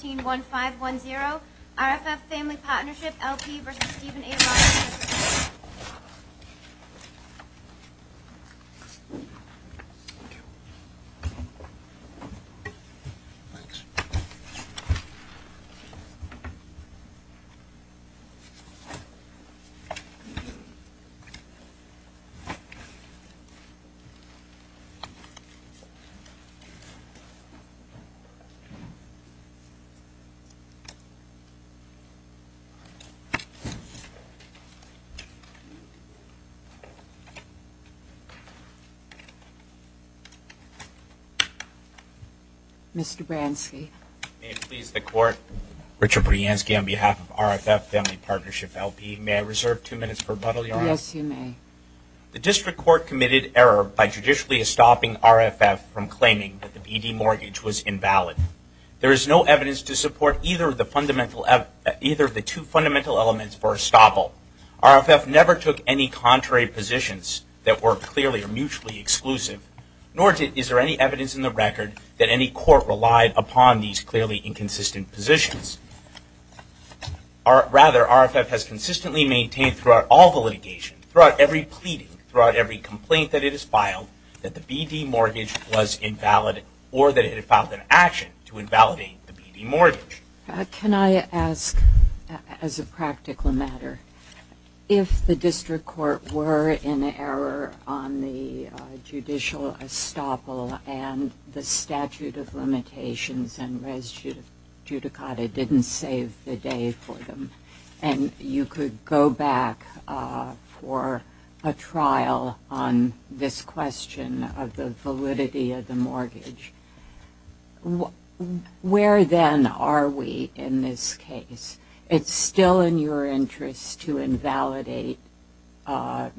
151510 RFF Family Partnership, LP v. Stephen A. Ross, LLC Mr. Bransky. May it please the Court, Richard Bransky on behalf of RFF Family Partnership, LP. May I reserve two minutes for rebuttal, Your Honor? Yes, you may. The District Court committed error by judicially stopping RFF from claiming that the VD mortgage was invalid. There is no evidence to support either of the two fundamental elements for estoppel. RFF never took any contrary positions that were clearly or mutually exclusive, nor is there any evidence in the record that any court relied upon these clearly inconsistent positions. Rather, RFF has consistently maintained throughout all the litigation, throughout every pleading, throughout every complaint that it has filed, that the VD mortgage was invalid or that it had filed an action to invalidate the VD mortgage. Can I ask, as a practical matter, if the District Court were in error on the judicial estoppel and the statute of limitations and res judicata didn't save the day for them, and you could go back for a trial on this question of the validity of the mortgage, where then are we in this case? It's still in your interest to invalidate the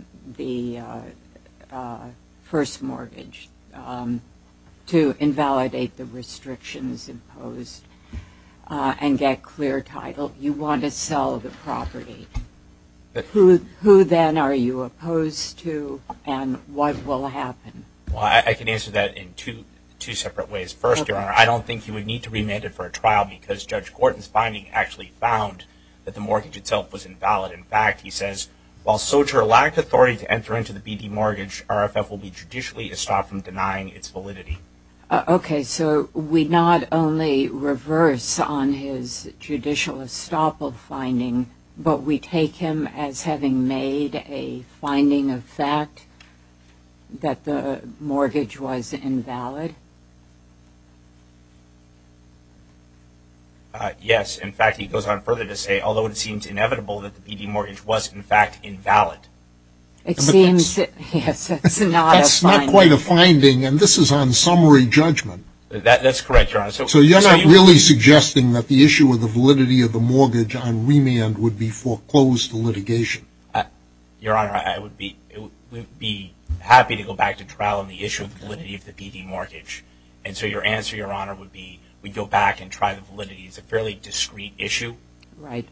first mortgage, to invalidate the restrictions imposed, and get clear title. You want to sell the property. Who then are you opposed to and what will happen? Well, I can answer that in two separate ways. First, Your Honor, I don't think you would need to remand it for a trial because Judge Gorton's finding actually found that the mortgage itself was invalid. In fact, he says, while soldier lacked authority to enter into the VD mortgage, RFF will be judicially estopped from denying its validity. Okay, so we not only reverse on his judicial estoppel finding, but we take him as having made a finding of fact that the mortgage was invalid? Yes. In fact, he goes on further to say, although it seems inevitable that the VD mortgage was in fact invalid. It seems, yes, it's not a finding. That's not quite a finding and this is on summary judgment. That's correct, Your Honor. So you're not really suggesting that the issue of the validity of the mortgage on remand would be foreclosed to litigation? Your Honor, I would be happy to go back to trial on the issue of the validity of the VD mortgage. And so your answer, Your Honor, would be we'd go back and try the validity. It's a fairly discrete issue. Right.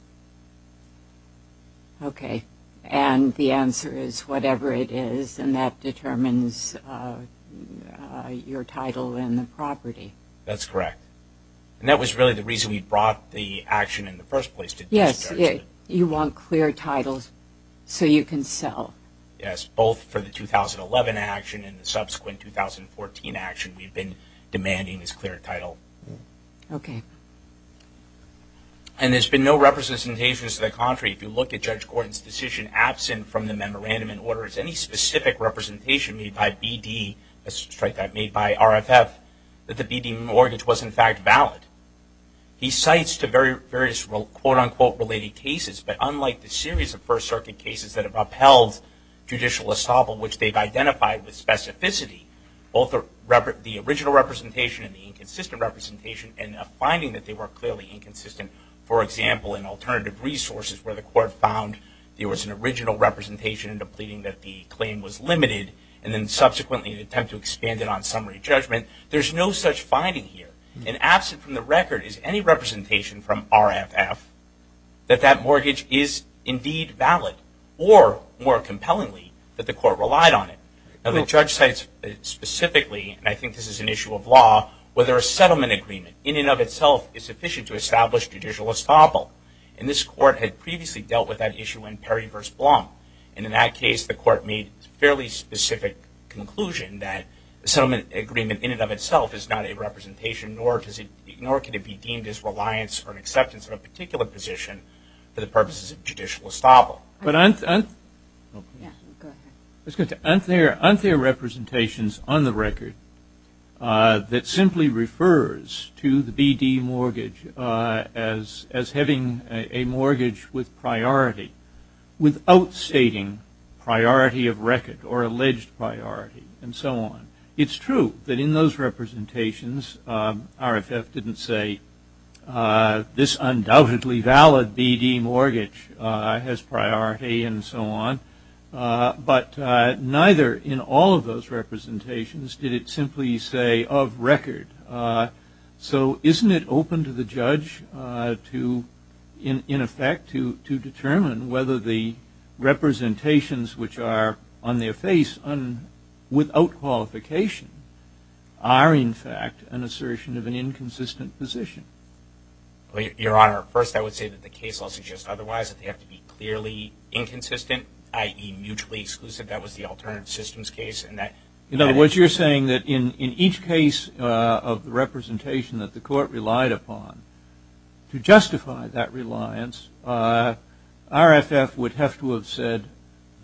Okay. And the answer is whatever it is and that determines your title in the property. That's correct. And that was really the reason we brought the action in the first place. Yes, you want clear titles so you can sell. Yes, both for the 2011 action and the subsequent 2014 action, we've been demanding this clear title. Okay. And there's been no representations to the contrary. If you look at Judge Gordon's decision, absent from the memorandum in order, is any specific representation made by VD, let's strike that, made by RFF, that the VD mortgage was in fact valid. He cites the various quote, unquote, related cases. But unlike the series of First Circuit cases that have upheld judicial estoppel, which they've identified with specificity, both the original representation and the inconsistent representation and a finding that they were clearly inconsistent, for example, in alternative resources where the court found there was an original representation in the pleading that the claim was limited and then subsequently an attempt to expand it on summary judgment. There's no such finding here. And absent from the record is any representation from RFF that that mortgage is indeed valid or, more compellingly, that the court relied on it. Now, the judge cites specifically, and I think this is an issue of law, whether a settlement agreement, in and of itself, is sufficient to establish judicial estoppel. And this court had previously dealt with that issue in Perry v. Blum. And in that case, the court made a fairly specific conclusion that a settlement agreement in and of itself is not a representation, nor can it be deemed as reliance or an acceptance of a particular position for the purposes of judicial estoppel. But aren't there representations on the record that simply refers to the BD mortgage as having a mortgage with priority without stating priority of record or alleged priority and so on? It's true that in those representations, RFF didn't say this undoubtedly valid BD mortgage has priority and so on. But neither in all of those representations did it simply say of record. So isn't it open to the judge to, in effect, to determine whether the representations which are on their face without qualification are, in fact, an assertion of an inconsistent position? Your Honor, first I would say that the case laws suggest otherwise, that they have to be clearly inconsistent, i.e. mutually exclusive. That was the alternate systems case. In other words, you're saying that in each case of the representation that the court relied upon, to justify that reliance, RFF would have to have said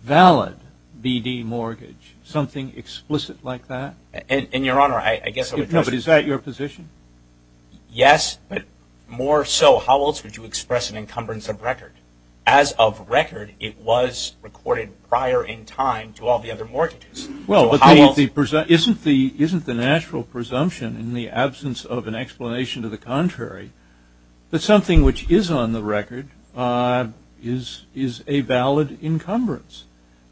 valid BD mortgage, something explicit like that? And, Your Honor, I guess what I'm trying to say is that your position? Yes, but more so how else would you express an encumbrance of record? As of record, it was recorded prior in time to all the other mortgages. Well, isn't the natural presumption in the absence of an explanation to the contrary that something which is on the record is a valid encumbrance?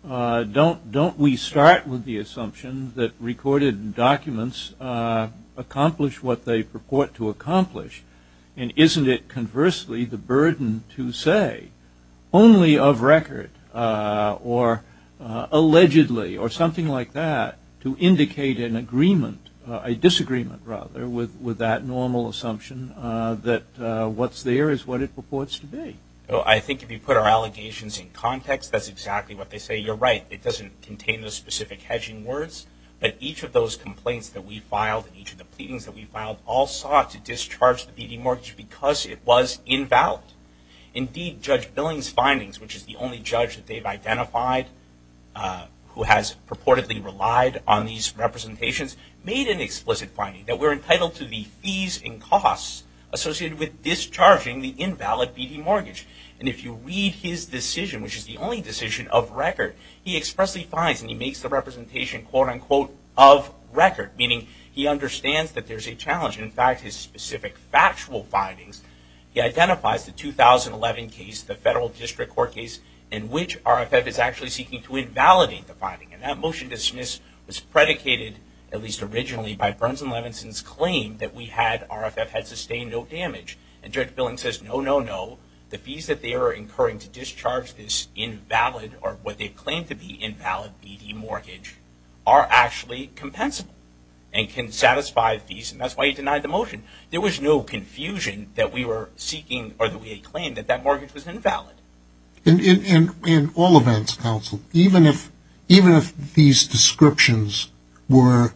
Don't we start with the assumption that recorded documents accomplish what they purport to accomplish? And isn't it, conversely, the burden to say only of record or allegedly or something like that to indicate an agreement, a disagreement, rather, with that normal assumption that what's there is what it purports to be? I think if you put our allegations in context, that's exactly what they say. You're right. It doesn't contain the specific hedging words, but each of those complaints that we filed and each of the pleadings that we filed all sought to discharge the BD mortgage because it was invalid. Indeed, Judge Billings' findings, which is the only judge that they've identified who has purportedly relied on these representations, made an explicit finding that we're entitled to the fees and costs associated with discharging the invalid BD mortgage. And if you read his decision, which is the only decision of record, he expressly finds and he makes the representation, quote-unquote, of record, meaning he understands that there's a challenge. In fact, his specific factual findings, he identifies the 2011 case, the federal district court case, in which RFF is actually seeking to invalidate the finding. And that motion dismissed was predicated, at least originally, by Burns and Levinson's claim that we had RFF had sustained no damage. And Judge Billings says, no, no, no. The fees that they are incurring to discharge this invalid or what they claim to be invalid BD mortgage are actually compensable and can satisfy fees. And that's why he denied the motion. There was no confusion that we were seeking or that we had claimed that that mortgage was invalid. And in all events, counsel, even if these descriptions were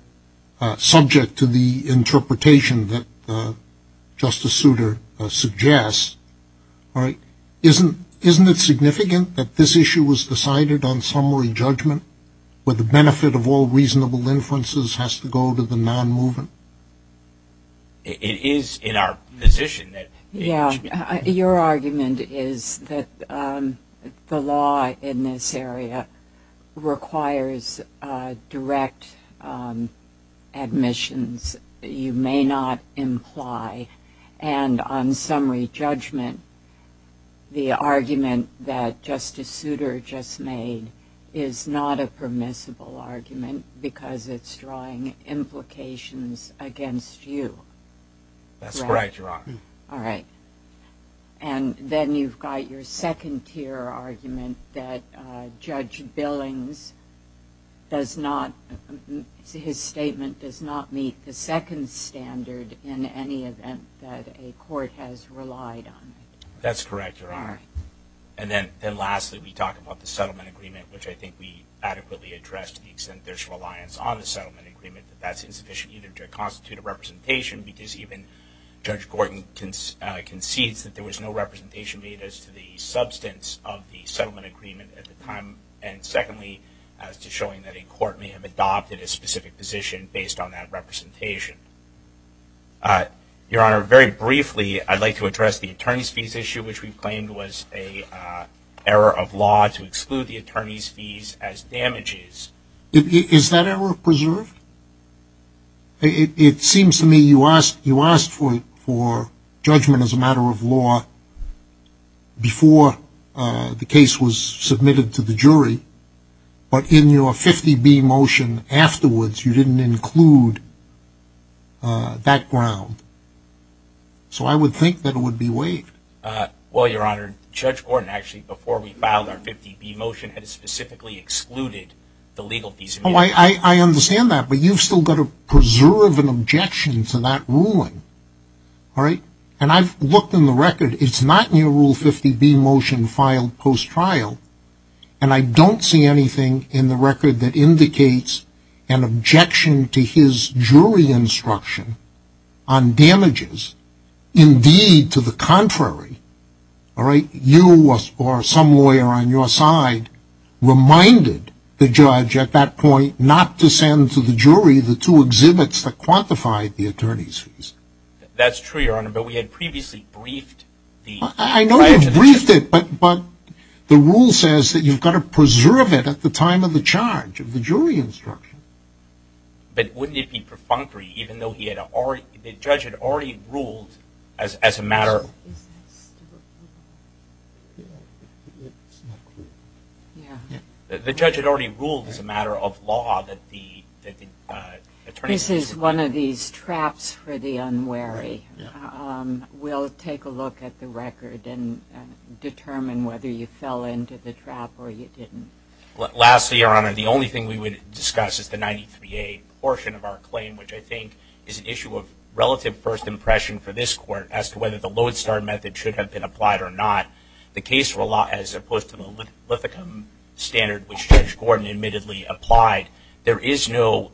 subject to the interpretation that Justice Souter suggests, isn't it significant that this issue was decided on summary judgment where the benefit of all reasonable inferences has to go to the non-moving? It is in our position that it should be. Yeah. Your argument is that the law in this area requires direct admissions. You may not imply, and on summary judgment, the argument that Justice Souter just made is not a permissible argument because it's drawing implications against you. That's right, Your Honor. All right. And then you've got your second tier argument that Judge Billings does not – his statement does not meet the second standard in any event that a court has relied on it. That's correct, Your Honor. All right. And then lastly, we talk about the settlement agreement, which I think we adequately addressed to the extent there's reliance on the settlement agreement, that that's insufficient either to constitute a representation because even Judge Gorton concedes that there was no representation made as to the substance of the settlement agreement at the time. And secondly, as to showing that a court may have adopted a specific position based on that representation. Your Honor, very briefly, I'd like to address the attorney's fees issue, which we claimed was an error of law to exclude the attorney's fees as damages. Is that error preserved? It seems to me you asked for judgment as a matter of law before the case was submitted to the jury, but in your 50-B motion afterwards you didn't include that ground. So I would think that it would be waived. Well, Your Honor, Judge Gorton actually, before we filed our 50-B motion, had specifically excluded the legal fees. I understand that, but you've still got to preserve an objection to that ruling. And I've looked in the record. It's not in your Rule 50-B motion filed post-trial, and I don't see anything in the record that indicates an objection to his jury instruction on damages. Indeed, to the contrary, you or some lawyer on your side reminded the judge at that point not to send to the jury the two exhibits that quantified the attorney's fees. That's true, Your Honor, but we had previously briefed the judge. I know you briefed it, but the rule says that you've got to preserve it at the time of the charge of the jury instruction. But wouldn't it be perfunctory even though the judge had already ruled as a matter of law? It's not clear. Yeah. The judge had already ruled as a matter of law that the attorney's fees were quantified. This is one of these traps for the unwary. We'll take a look at the record and determine whether you fell into the trap or you didn't. Lastly, Your Honor, the only thing we would discuss is the 93-A portion of our claim, which I think is an issue of relative first impression for this court as to whether the lodestar method should have been applied or not. The case law, as opposed to the lithicum standard, which Judge Gordon admittedly applied, there is no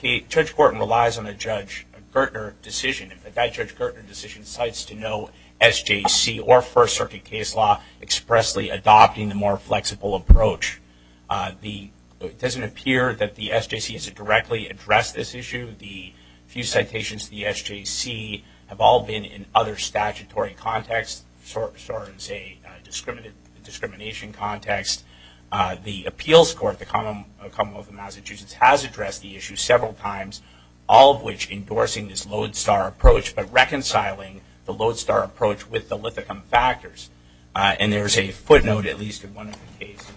– Judge Gordon relies on a Judge Gertner decision. If that Judge Gertner decision cites to no SJC or First Circuit case law expressly adopting the more flexible approach, it doesn't appear that the SJC has directly addressed this issue. The few citations to the SJC have all been in other statutory contexts, so as a discrimination context. The appeals court, the Commonwealth of Massachusetts, has addressed the issue several times, all of which endorsing this lodestar approach but reconciling the lodestar approach with the lithicum factors. And there is a footnote, at least in one of the cases,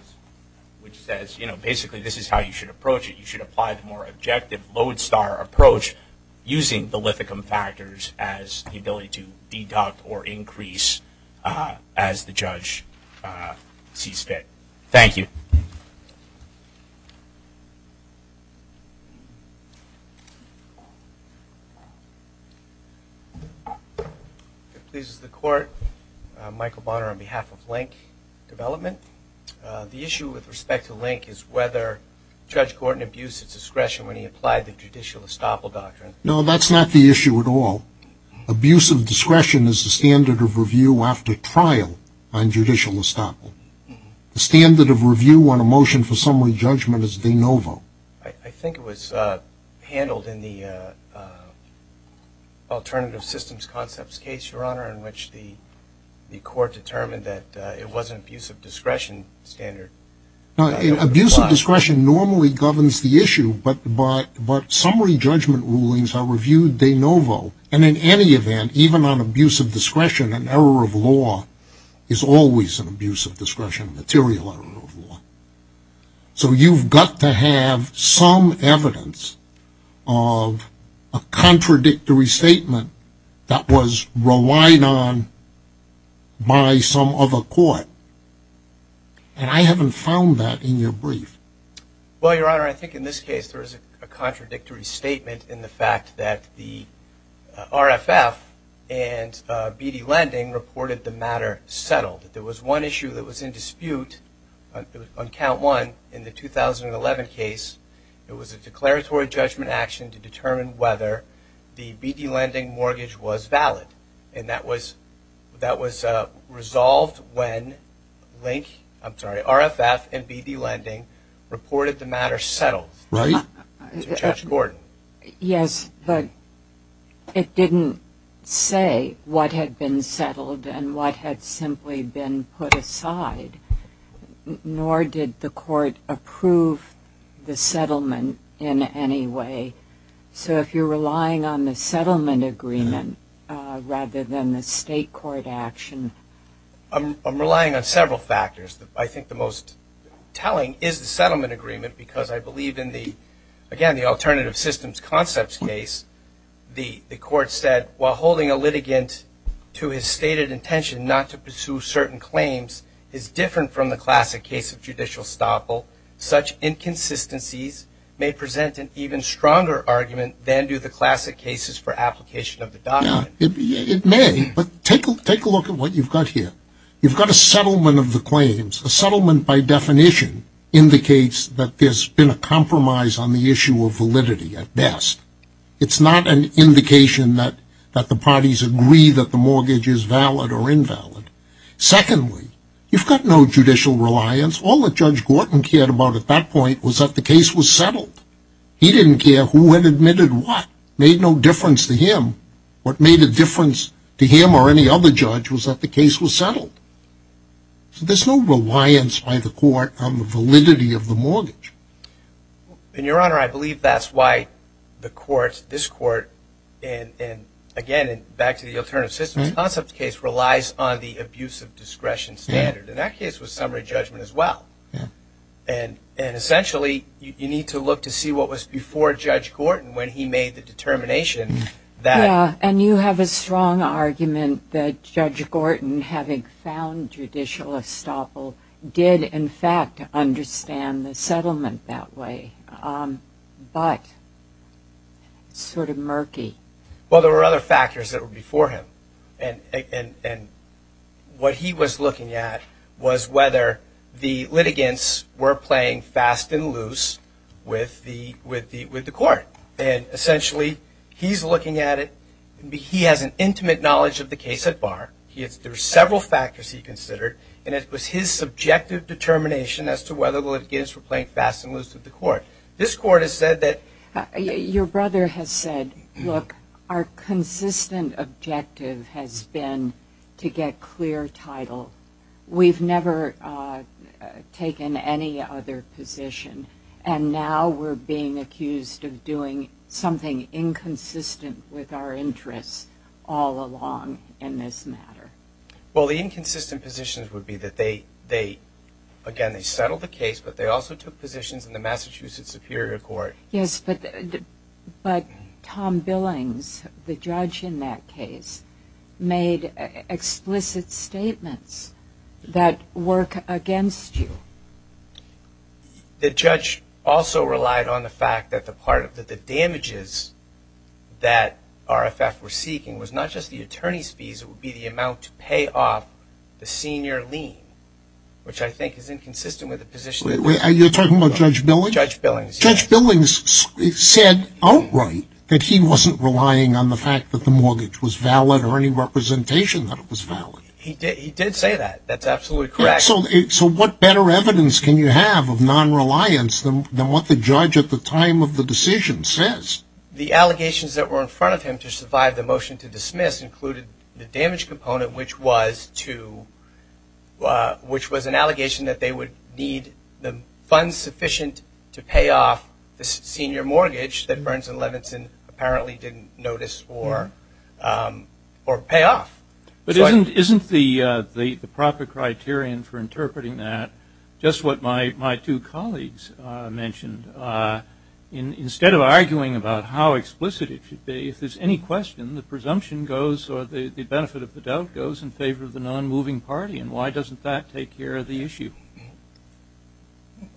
which says, you know, basically this is how you should approach it. You should apply the more objective lodestar approach using the lithicum factors as the ability to deduct or increase as the judge sees fit. Thank you. It pleases the Court. Michael Bonner on behalf of Link Development. The issue with respect to Link is whether Judge Gordon abused his discretion when he applied the judicial estoppel doctrine. No, that's not the issue at all. Abusive discretion is the standard of review after trial on judicial estoppel. The standard of review on a motion for summary judgment is de novo. I think it was handled in the alternative systems concepts case, Your Honor, in which the Court determined that it was an abusive discretion standard. Abusive discretion normally governs the issue, but summary judgment rulings are reviewed de novo. And in any event, even on abusive discretion, an error of law is always an abuse of discretion, a material error of law. So you've got to have some evidence of a contradictory statement that was relied on by some other court. And I haven't found that in your brief. Well, Your Honor, I think in this case there is a contradictory statement in the fact that the RFF and BD Lending reported the matter settled. There was one issue that was in dispute on count one in the 2011 case. It was a declaratory judgment action to determine whether the BD Lending mortgage was valid, and that was resolved when RFF and BD Lending reported the matter settled. Right. Judge Gordon. Yes, but it didn't say what had been settled and what had simply been put aside, nor did the Court approve the settlement in any way. So if you're relying on the settlement agreement rather than the state court action. I'm relying on several factors. I think the most telling is the settlement agreement because I believe in the, again, the Alternative Systems Concepts case, the Court said, while holding a litigant to his stated intention not to pursue certain claims is different from the classic case of judicial estoppel, such inconsistencies may present an even stronger argument than do the classic cases for application of the document. It may, but take a look at what you've got here. You've got a settlement of the claims. A settlement by definition indicates that there's been a compromise on the issue of validity at best. It's not an indication that the parties agree that the mortgage is valid or invalid. Secondly, you've got no judicial reliance. All that Judge Gordon cared about at that point was that the case was settled. He didn't care who had admitted what. It made no difference to him. What made a difference to him or any other judge was that the case was settled. So there's no reliance by the Court on the validity of the mortgage. And, Your Honor, I believe that's why the Court, this Court, and, again, back to the Alternative Systems Concepts case, relies on the abuse of discretion standard. And that case was summary judgment as well. And, essentially, you need to look to see what was before Judge Gordon when he made the determination that... the profound judicial estoppel did, in fact, understand the settlement that way. But it's sort of murky. Well, there were other factors that were before him. And what he was looking at was whether the litigants were playing fast and loose with the Court. And, essentially, he's looking at it... He has an intimate knowledge of the case at bar. There are several factors he considered. And it was his subjective determination as to whether the litigants were playing fast and loose with the Court. This Court has said that... Your brother has said, look, our consistent objective has been to get clear title. We've never taken any other position. And now we're being accused of doing something inconsistent with our interests all along in this matter. Well, the inconsistent positions would be that they, again, they settled the case. But they also took positions in the Massachusetts Superior Court. Yes, but Tom Billings, the judge in that case, made explicit statements that work against you. The judge also relied on the fact that the damages that RFF were seeking was not just the attorney's fees. It would be the amount to pay off the senior lien, which I think is inconsistent with the position. You're talking about Judge Billings? Judge Billings, yes. Judge Billings said outright that he wasn't relying on the fact that the mortgage was valid or any representation that it was valid. He did say that. That's absolutely correct. So what better evidence can you have of non-reliance than what the judge at the time of the decision says? The allegations that were in front of him to survive the motion to dismiss included the damage component, which was an allegation that they would need the funds sufficient to pay off the senior mortgage that Burns and Levinson apparently didn't notice or pay off. But isn't the proper criterion for interpreting that just what my two colleagues mentioned? Instead of arguing about how explicit it should be, if there's any question, the presumption goes or the benefit of the doubt goes in favor of the non-moving party. And why doesn't that take care of the issue?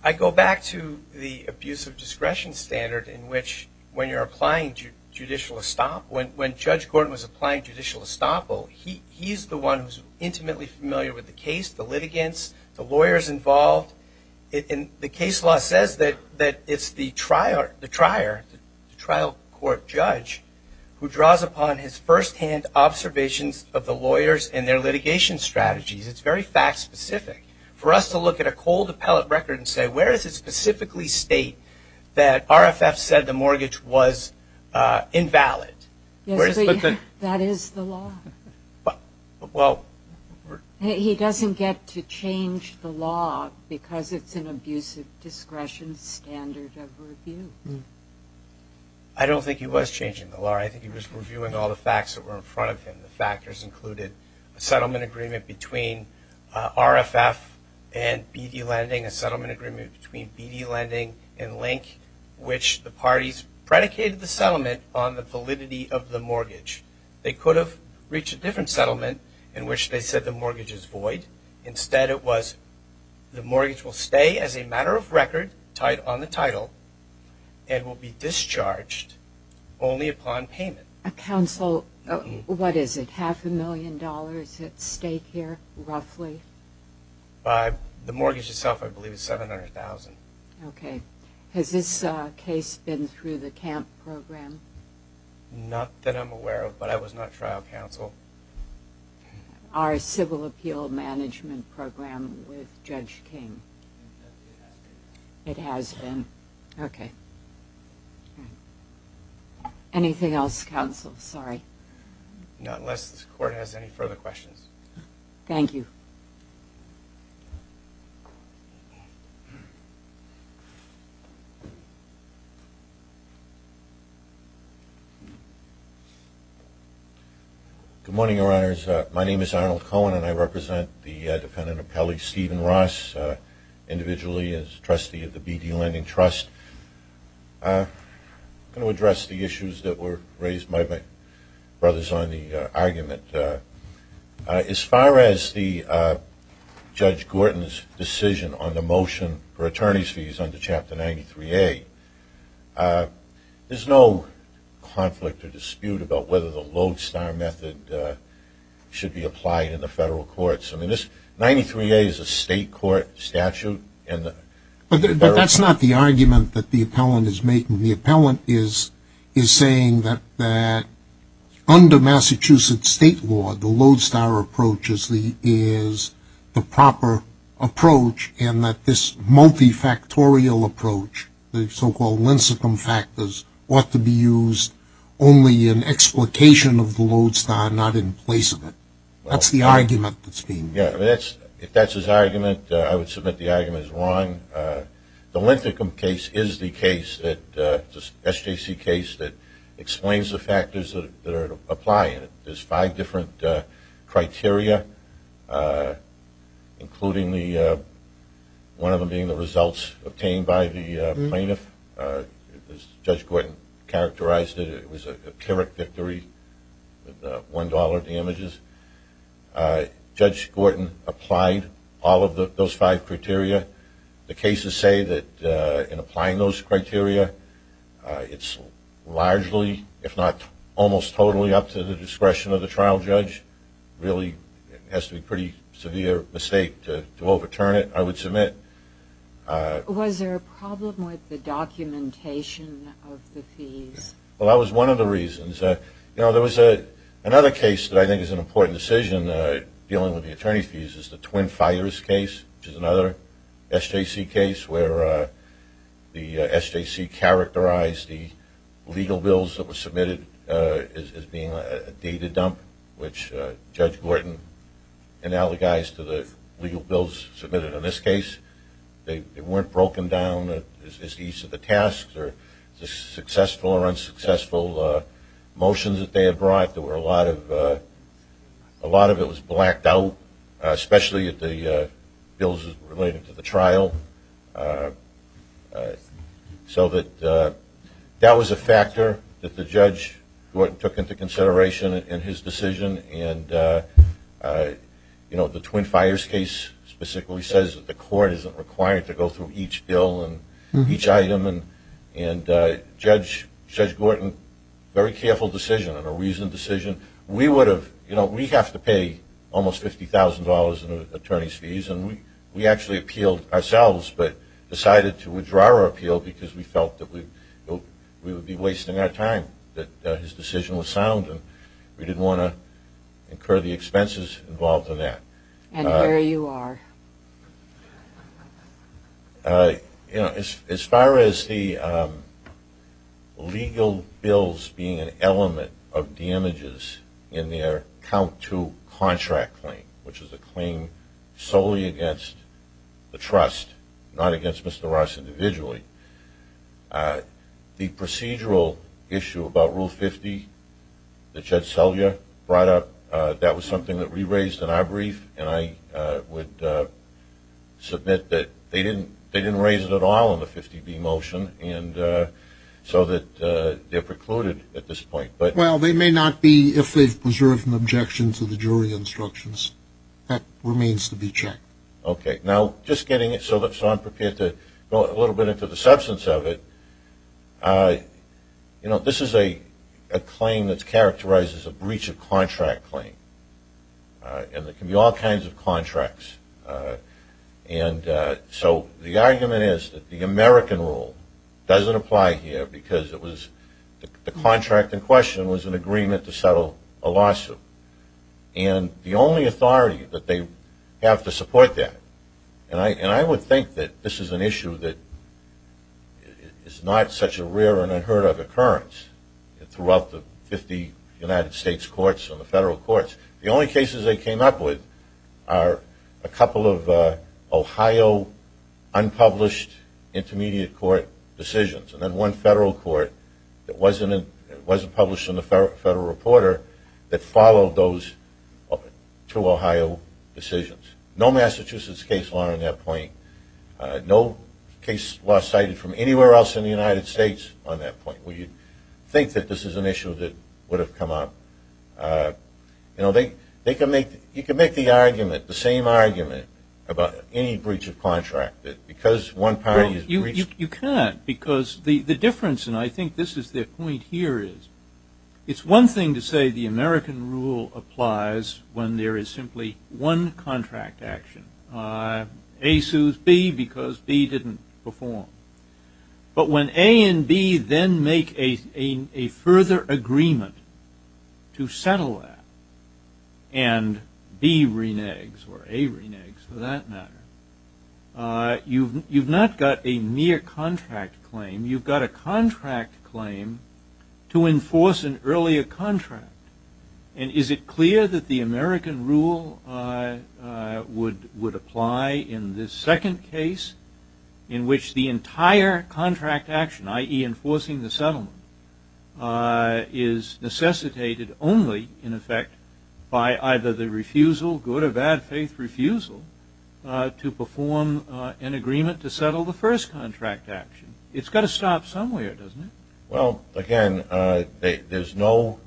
I go back to the abuse of discretion standard in which when you're applying judicial estoppel, when Judge Gordon was applying judicial estoppel, he's the one who's intimately familiar with the case, the litigants, the lawyers involved. And the case law says that it's the trial court judge who draws upon his firsthand observations of the lawyers and their litigation strategies. It's very fact-specific. For us to look at a cold appellate record and say, where does it specifically state that RFF said the mortgage was invalid? That is the law. He doesn't get to change the law because it's an abuse of discretion standard of review. I don't think he was changing the law. I think he was reviewing all the facts that were in front of him. The factors included a settlement agreement between RFF and BD Lending, a settlement agreement between BD Lending and Link, which the parties predicated the settlement on the validity of the mortgage. They could have reached a different settlement in which they said the mortgage is void. Instead, it was the mortgage will stay as a matter of record, tied on the title, and will be discharged only upon payment. Counsel, what is it, half a million dollars at stake here, roughly? The mortgage itself, I believe, is $700,000. Okay. Has this case been through the CAMP program? Not that I'm aware of, but I was not trial counsel. Our civil appeal management program with Judge King. It has been. It has been. Okay. Okay. Anything else, counsel? Sorry. Not unless this Court has any further questions. Thank you. Good morning, Your Honors. My name is Arnold Cohen, and I represent the defendant appellee, Stephen Ross, individually as trustee of the B.D. Lending Trust. I'm going to address the issues that were raised by my brothers on the argument. As far as Judge Gorton's decision on the motion for attorney's fees under Chapter 93A, there's no conflict or dispute about whether the lodestar method should be applied in the federal courts. I mean, 93A is a state court statute. But that's not the argument that the appellant is making. The appellant is saying that under Massachusetts state law, the lodestar approach is the proper approach and that this multifactorial approach, the so-called linsicum factors, ought to be used only in explication of the lodestar, not in place of it. That's the argument that's being made. Yeah, if that's his argument, I would submit the argument is wrong. The linsicum case is the case, the SJC case, that explains the factors that apply. There's five different criteria, including one of them being the results obtained by the plaintiff. Judge Gorton characterized it. It was a pyrrhic victory, the $1 of the images. Judge Gorton applied all of those five criteria. The cases say that in applying those criteria, it's largely, if not almost totally, up to the discretion of the trial judge. Really, it has to be a pretty severe mistake to overturn it, I would submit. Was there a problem with the documentation of the fees? Well, that was one of the reasons. You know, there was another case that I think is an important decision, dealing with the attorney's fees, is the Twin Fires case, which is another SJC case where the SJC characterized the legal bills that were submitted as being a data dump, which Judge Gorton analogized to the legal bills submitted in this case. They weren't broken down as to each of the tasks or the successful or unsuccessful motions that they had brought. A lot of it was blacked out, especially the bills related to the trial. So that was a factor that the judge took into consideration in his decision. And the Twin Fires case specifically says that the court isn't required to go through each bill and each item. And Judge Gorton, very careful decision and a reasoned decision. We have to pay almost $50,000 in attorney's fees, and we actually appealed ourselves, but decided to withdraw our appeal because we felt that we would be wasting our time, that his decision was sound, and we didn't want to incur the expenses involved in that. And here you are. You know, as far as the legal bills being an element of damages in their Count II contract claim, which is a claim solely against the trust, not against Mr. Ross individually, the procedural issue about Rule 50 that Judge Selya brought up, that was something that we raised in our brief, and I would submit that they didn't raise it at all in the 50B motion, and so they're precluded at this point. Well, they may not be if they've preserved an objection to the jury instructions. That remains to be checked. Okay. Now, just getting it so I'm prepared to go a little bit into the substance of it, you know, this is a claim that's characterized as a breach of contract claim, and there can be all kinds of contracts. And so the argument is that the American rule doesn't apply here because it was the contract in question was an agreement to settle a lawsuit. And the only authority that they have to support that, and I would think that this is an issue that is not such a rare and unheard of occurrence throughout the 50 United States courts and the federal courts. The only cases they came up with are a couple of Ohio unpublished intermediate court decisions, and then one federal court that wasn't published in the Federal Reporter that followed those two Ohio decisions. No Massachusetts case law on that point. No case law cited from anywhere else in the United States on that point. We think that this is an issue that would have come up. You know, you can make the argument, the same argument, about any breach of contract, that because one party is breached. You can't because the difference, and I think this is their point here, is it's one thing to say the American rule applies when there is simply one contract action. A sues B because B didn't perform. But when A and B then make a further agreement to settle that, and B reneges or A reneges for that matter, you've not got a mere contract claim. You've got a contract claim to enforce an earlier contract. And is it clear that the American rule would apply in this second case, in which the entire contract action, i.e. enforcing the settlement, is necessitated only, in effect, by either the refusal, good or bad faith refusal, to perform an agreement to settle the first contract action? It's got to stop somewhere, doesn't it? Well, again, there's no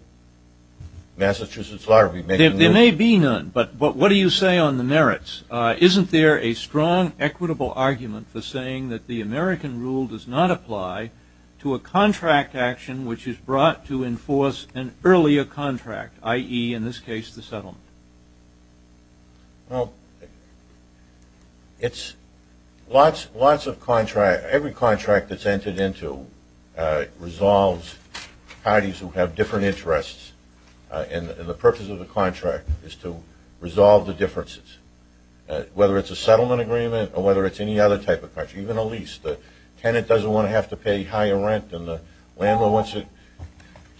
Massachusetts law that would be making this. There may be none, but what do you say on the merits? Isn't there a strong equitable argument for saying that the American rule does not apply to a contract action which is brought to enforce an earlier contract, i.e., in this case, the settlement? Well, it's lots of contracts. Every contract that's entered into resolves parties who have different interests. And the purpose of the contract is to resolve the differences, whether it's a settlement agreement or whether it's any other type of contract, even a lease. The tenant doesn't want to have to pay higher rent, and the landlord wants to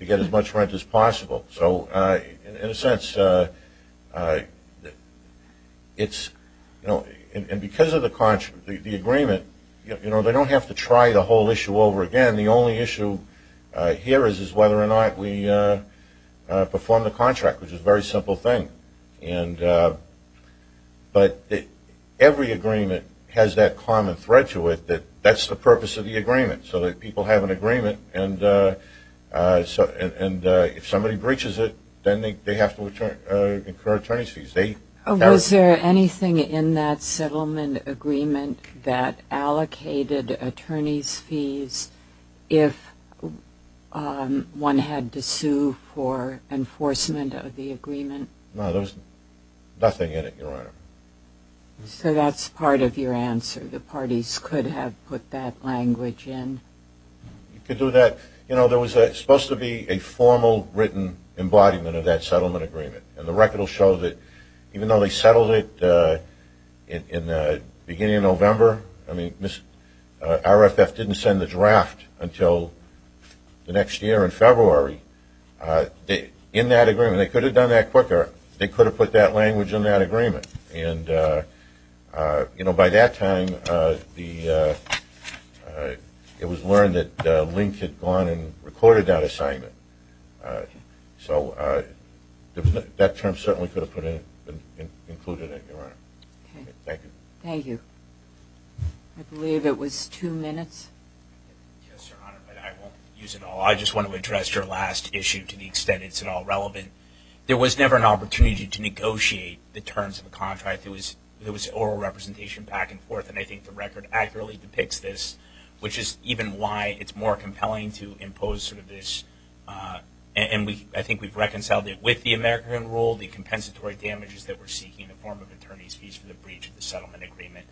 get as much rent as possible. So, in a sense, because of the agreement, they don't have to try the whole issue over again. The only issue here is whether or not we perform the contract, which is a very simple thing. But every agreement has that common thread to it that that's the purpose of the agreement, so that people have an agreement, and if somebody breaches it, then they have to incur attorney's fees. Was there anything in that settlement agreement that allocated attorney's fees if one had to sue for enforcement of the agreement? No, there was nothing in it, Your Honor. So that's part of your answer, the parties could have put that language in? You could do that. You know, there was supposed to be a formal written embodiment of that settlement agreement, and the record will show that even though they settled it in the beginning of November, I mean, RFF didn't send the draft until the next year in February. In that agreement, they could have done that quicker. They could have put that language in that agreement. And, you know, by that time, it was learned that Link had gone and recorded that assignment. So that term certainly could have been included in it, Your Honor. Okay. Thank you. Thank you. I believe it was two minutes. Yes, Your Honor, but I won't use it all. I just want to address your last issue to the extent it's at all relevant. There was never an opportunity to negotiate the terms of the contract. There was oral representation back and forth, and I think the record accurately depicts this, which is even why it's more compelling to impose sort of this, and I think we've reconciled it with the American rule, the compensatory damages that we're seeking in the form of attorney's fees for the breach of the settlement agreement.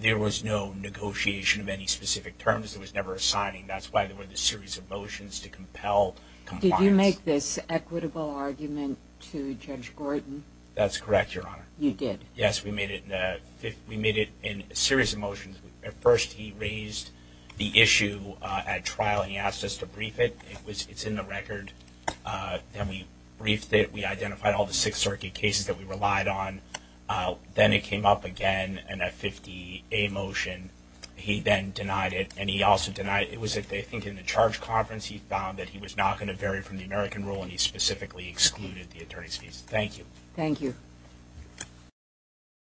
There was no negotiation of any specific terms. It was never a signing. That's why there were the series of motions to compel compliance. Did you make this equitable argument to Judge Gordon? That's correct, Your Honor. You did. Yes, we made it in a series of motions. At first he raised the issue at trial, and he asked us to brief it. It's in the record. Then we briefed it. We identified all the Sixth Circuit cases that we relied on. Then it came up again in a 50A motion. He then denied it, and he also denied it. It was, I think, in the charge conference he found that he was not going to vary from the American rule, and he specifically excluded the attorney's fees. Thank you. Thank you.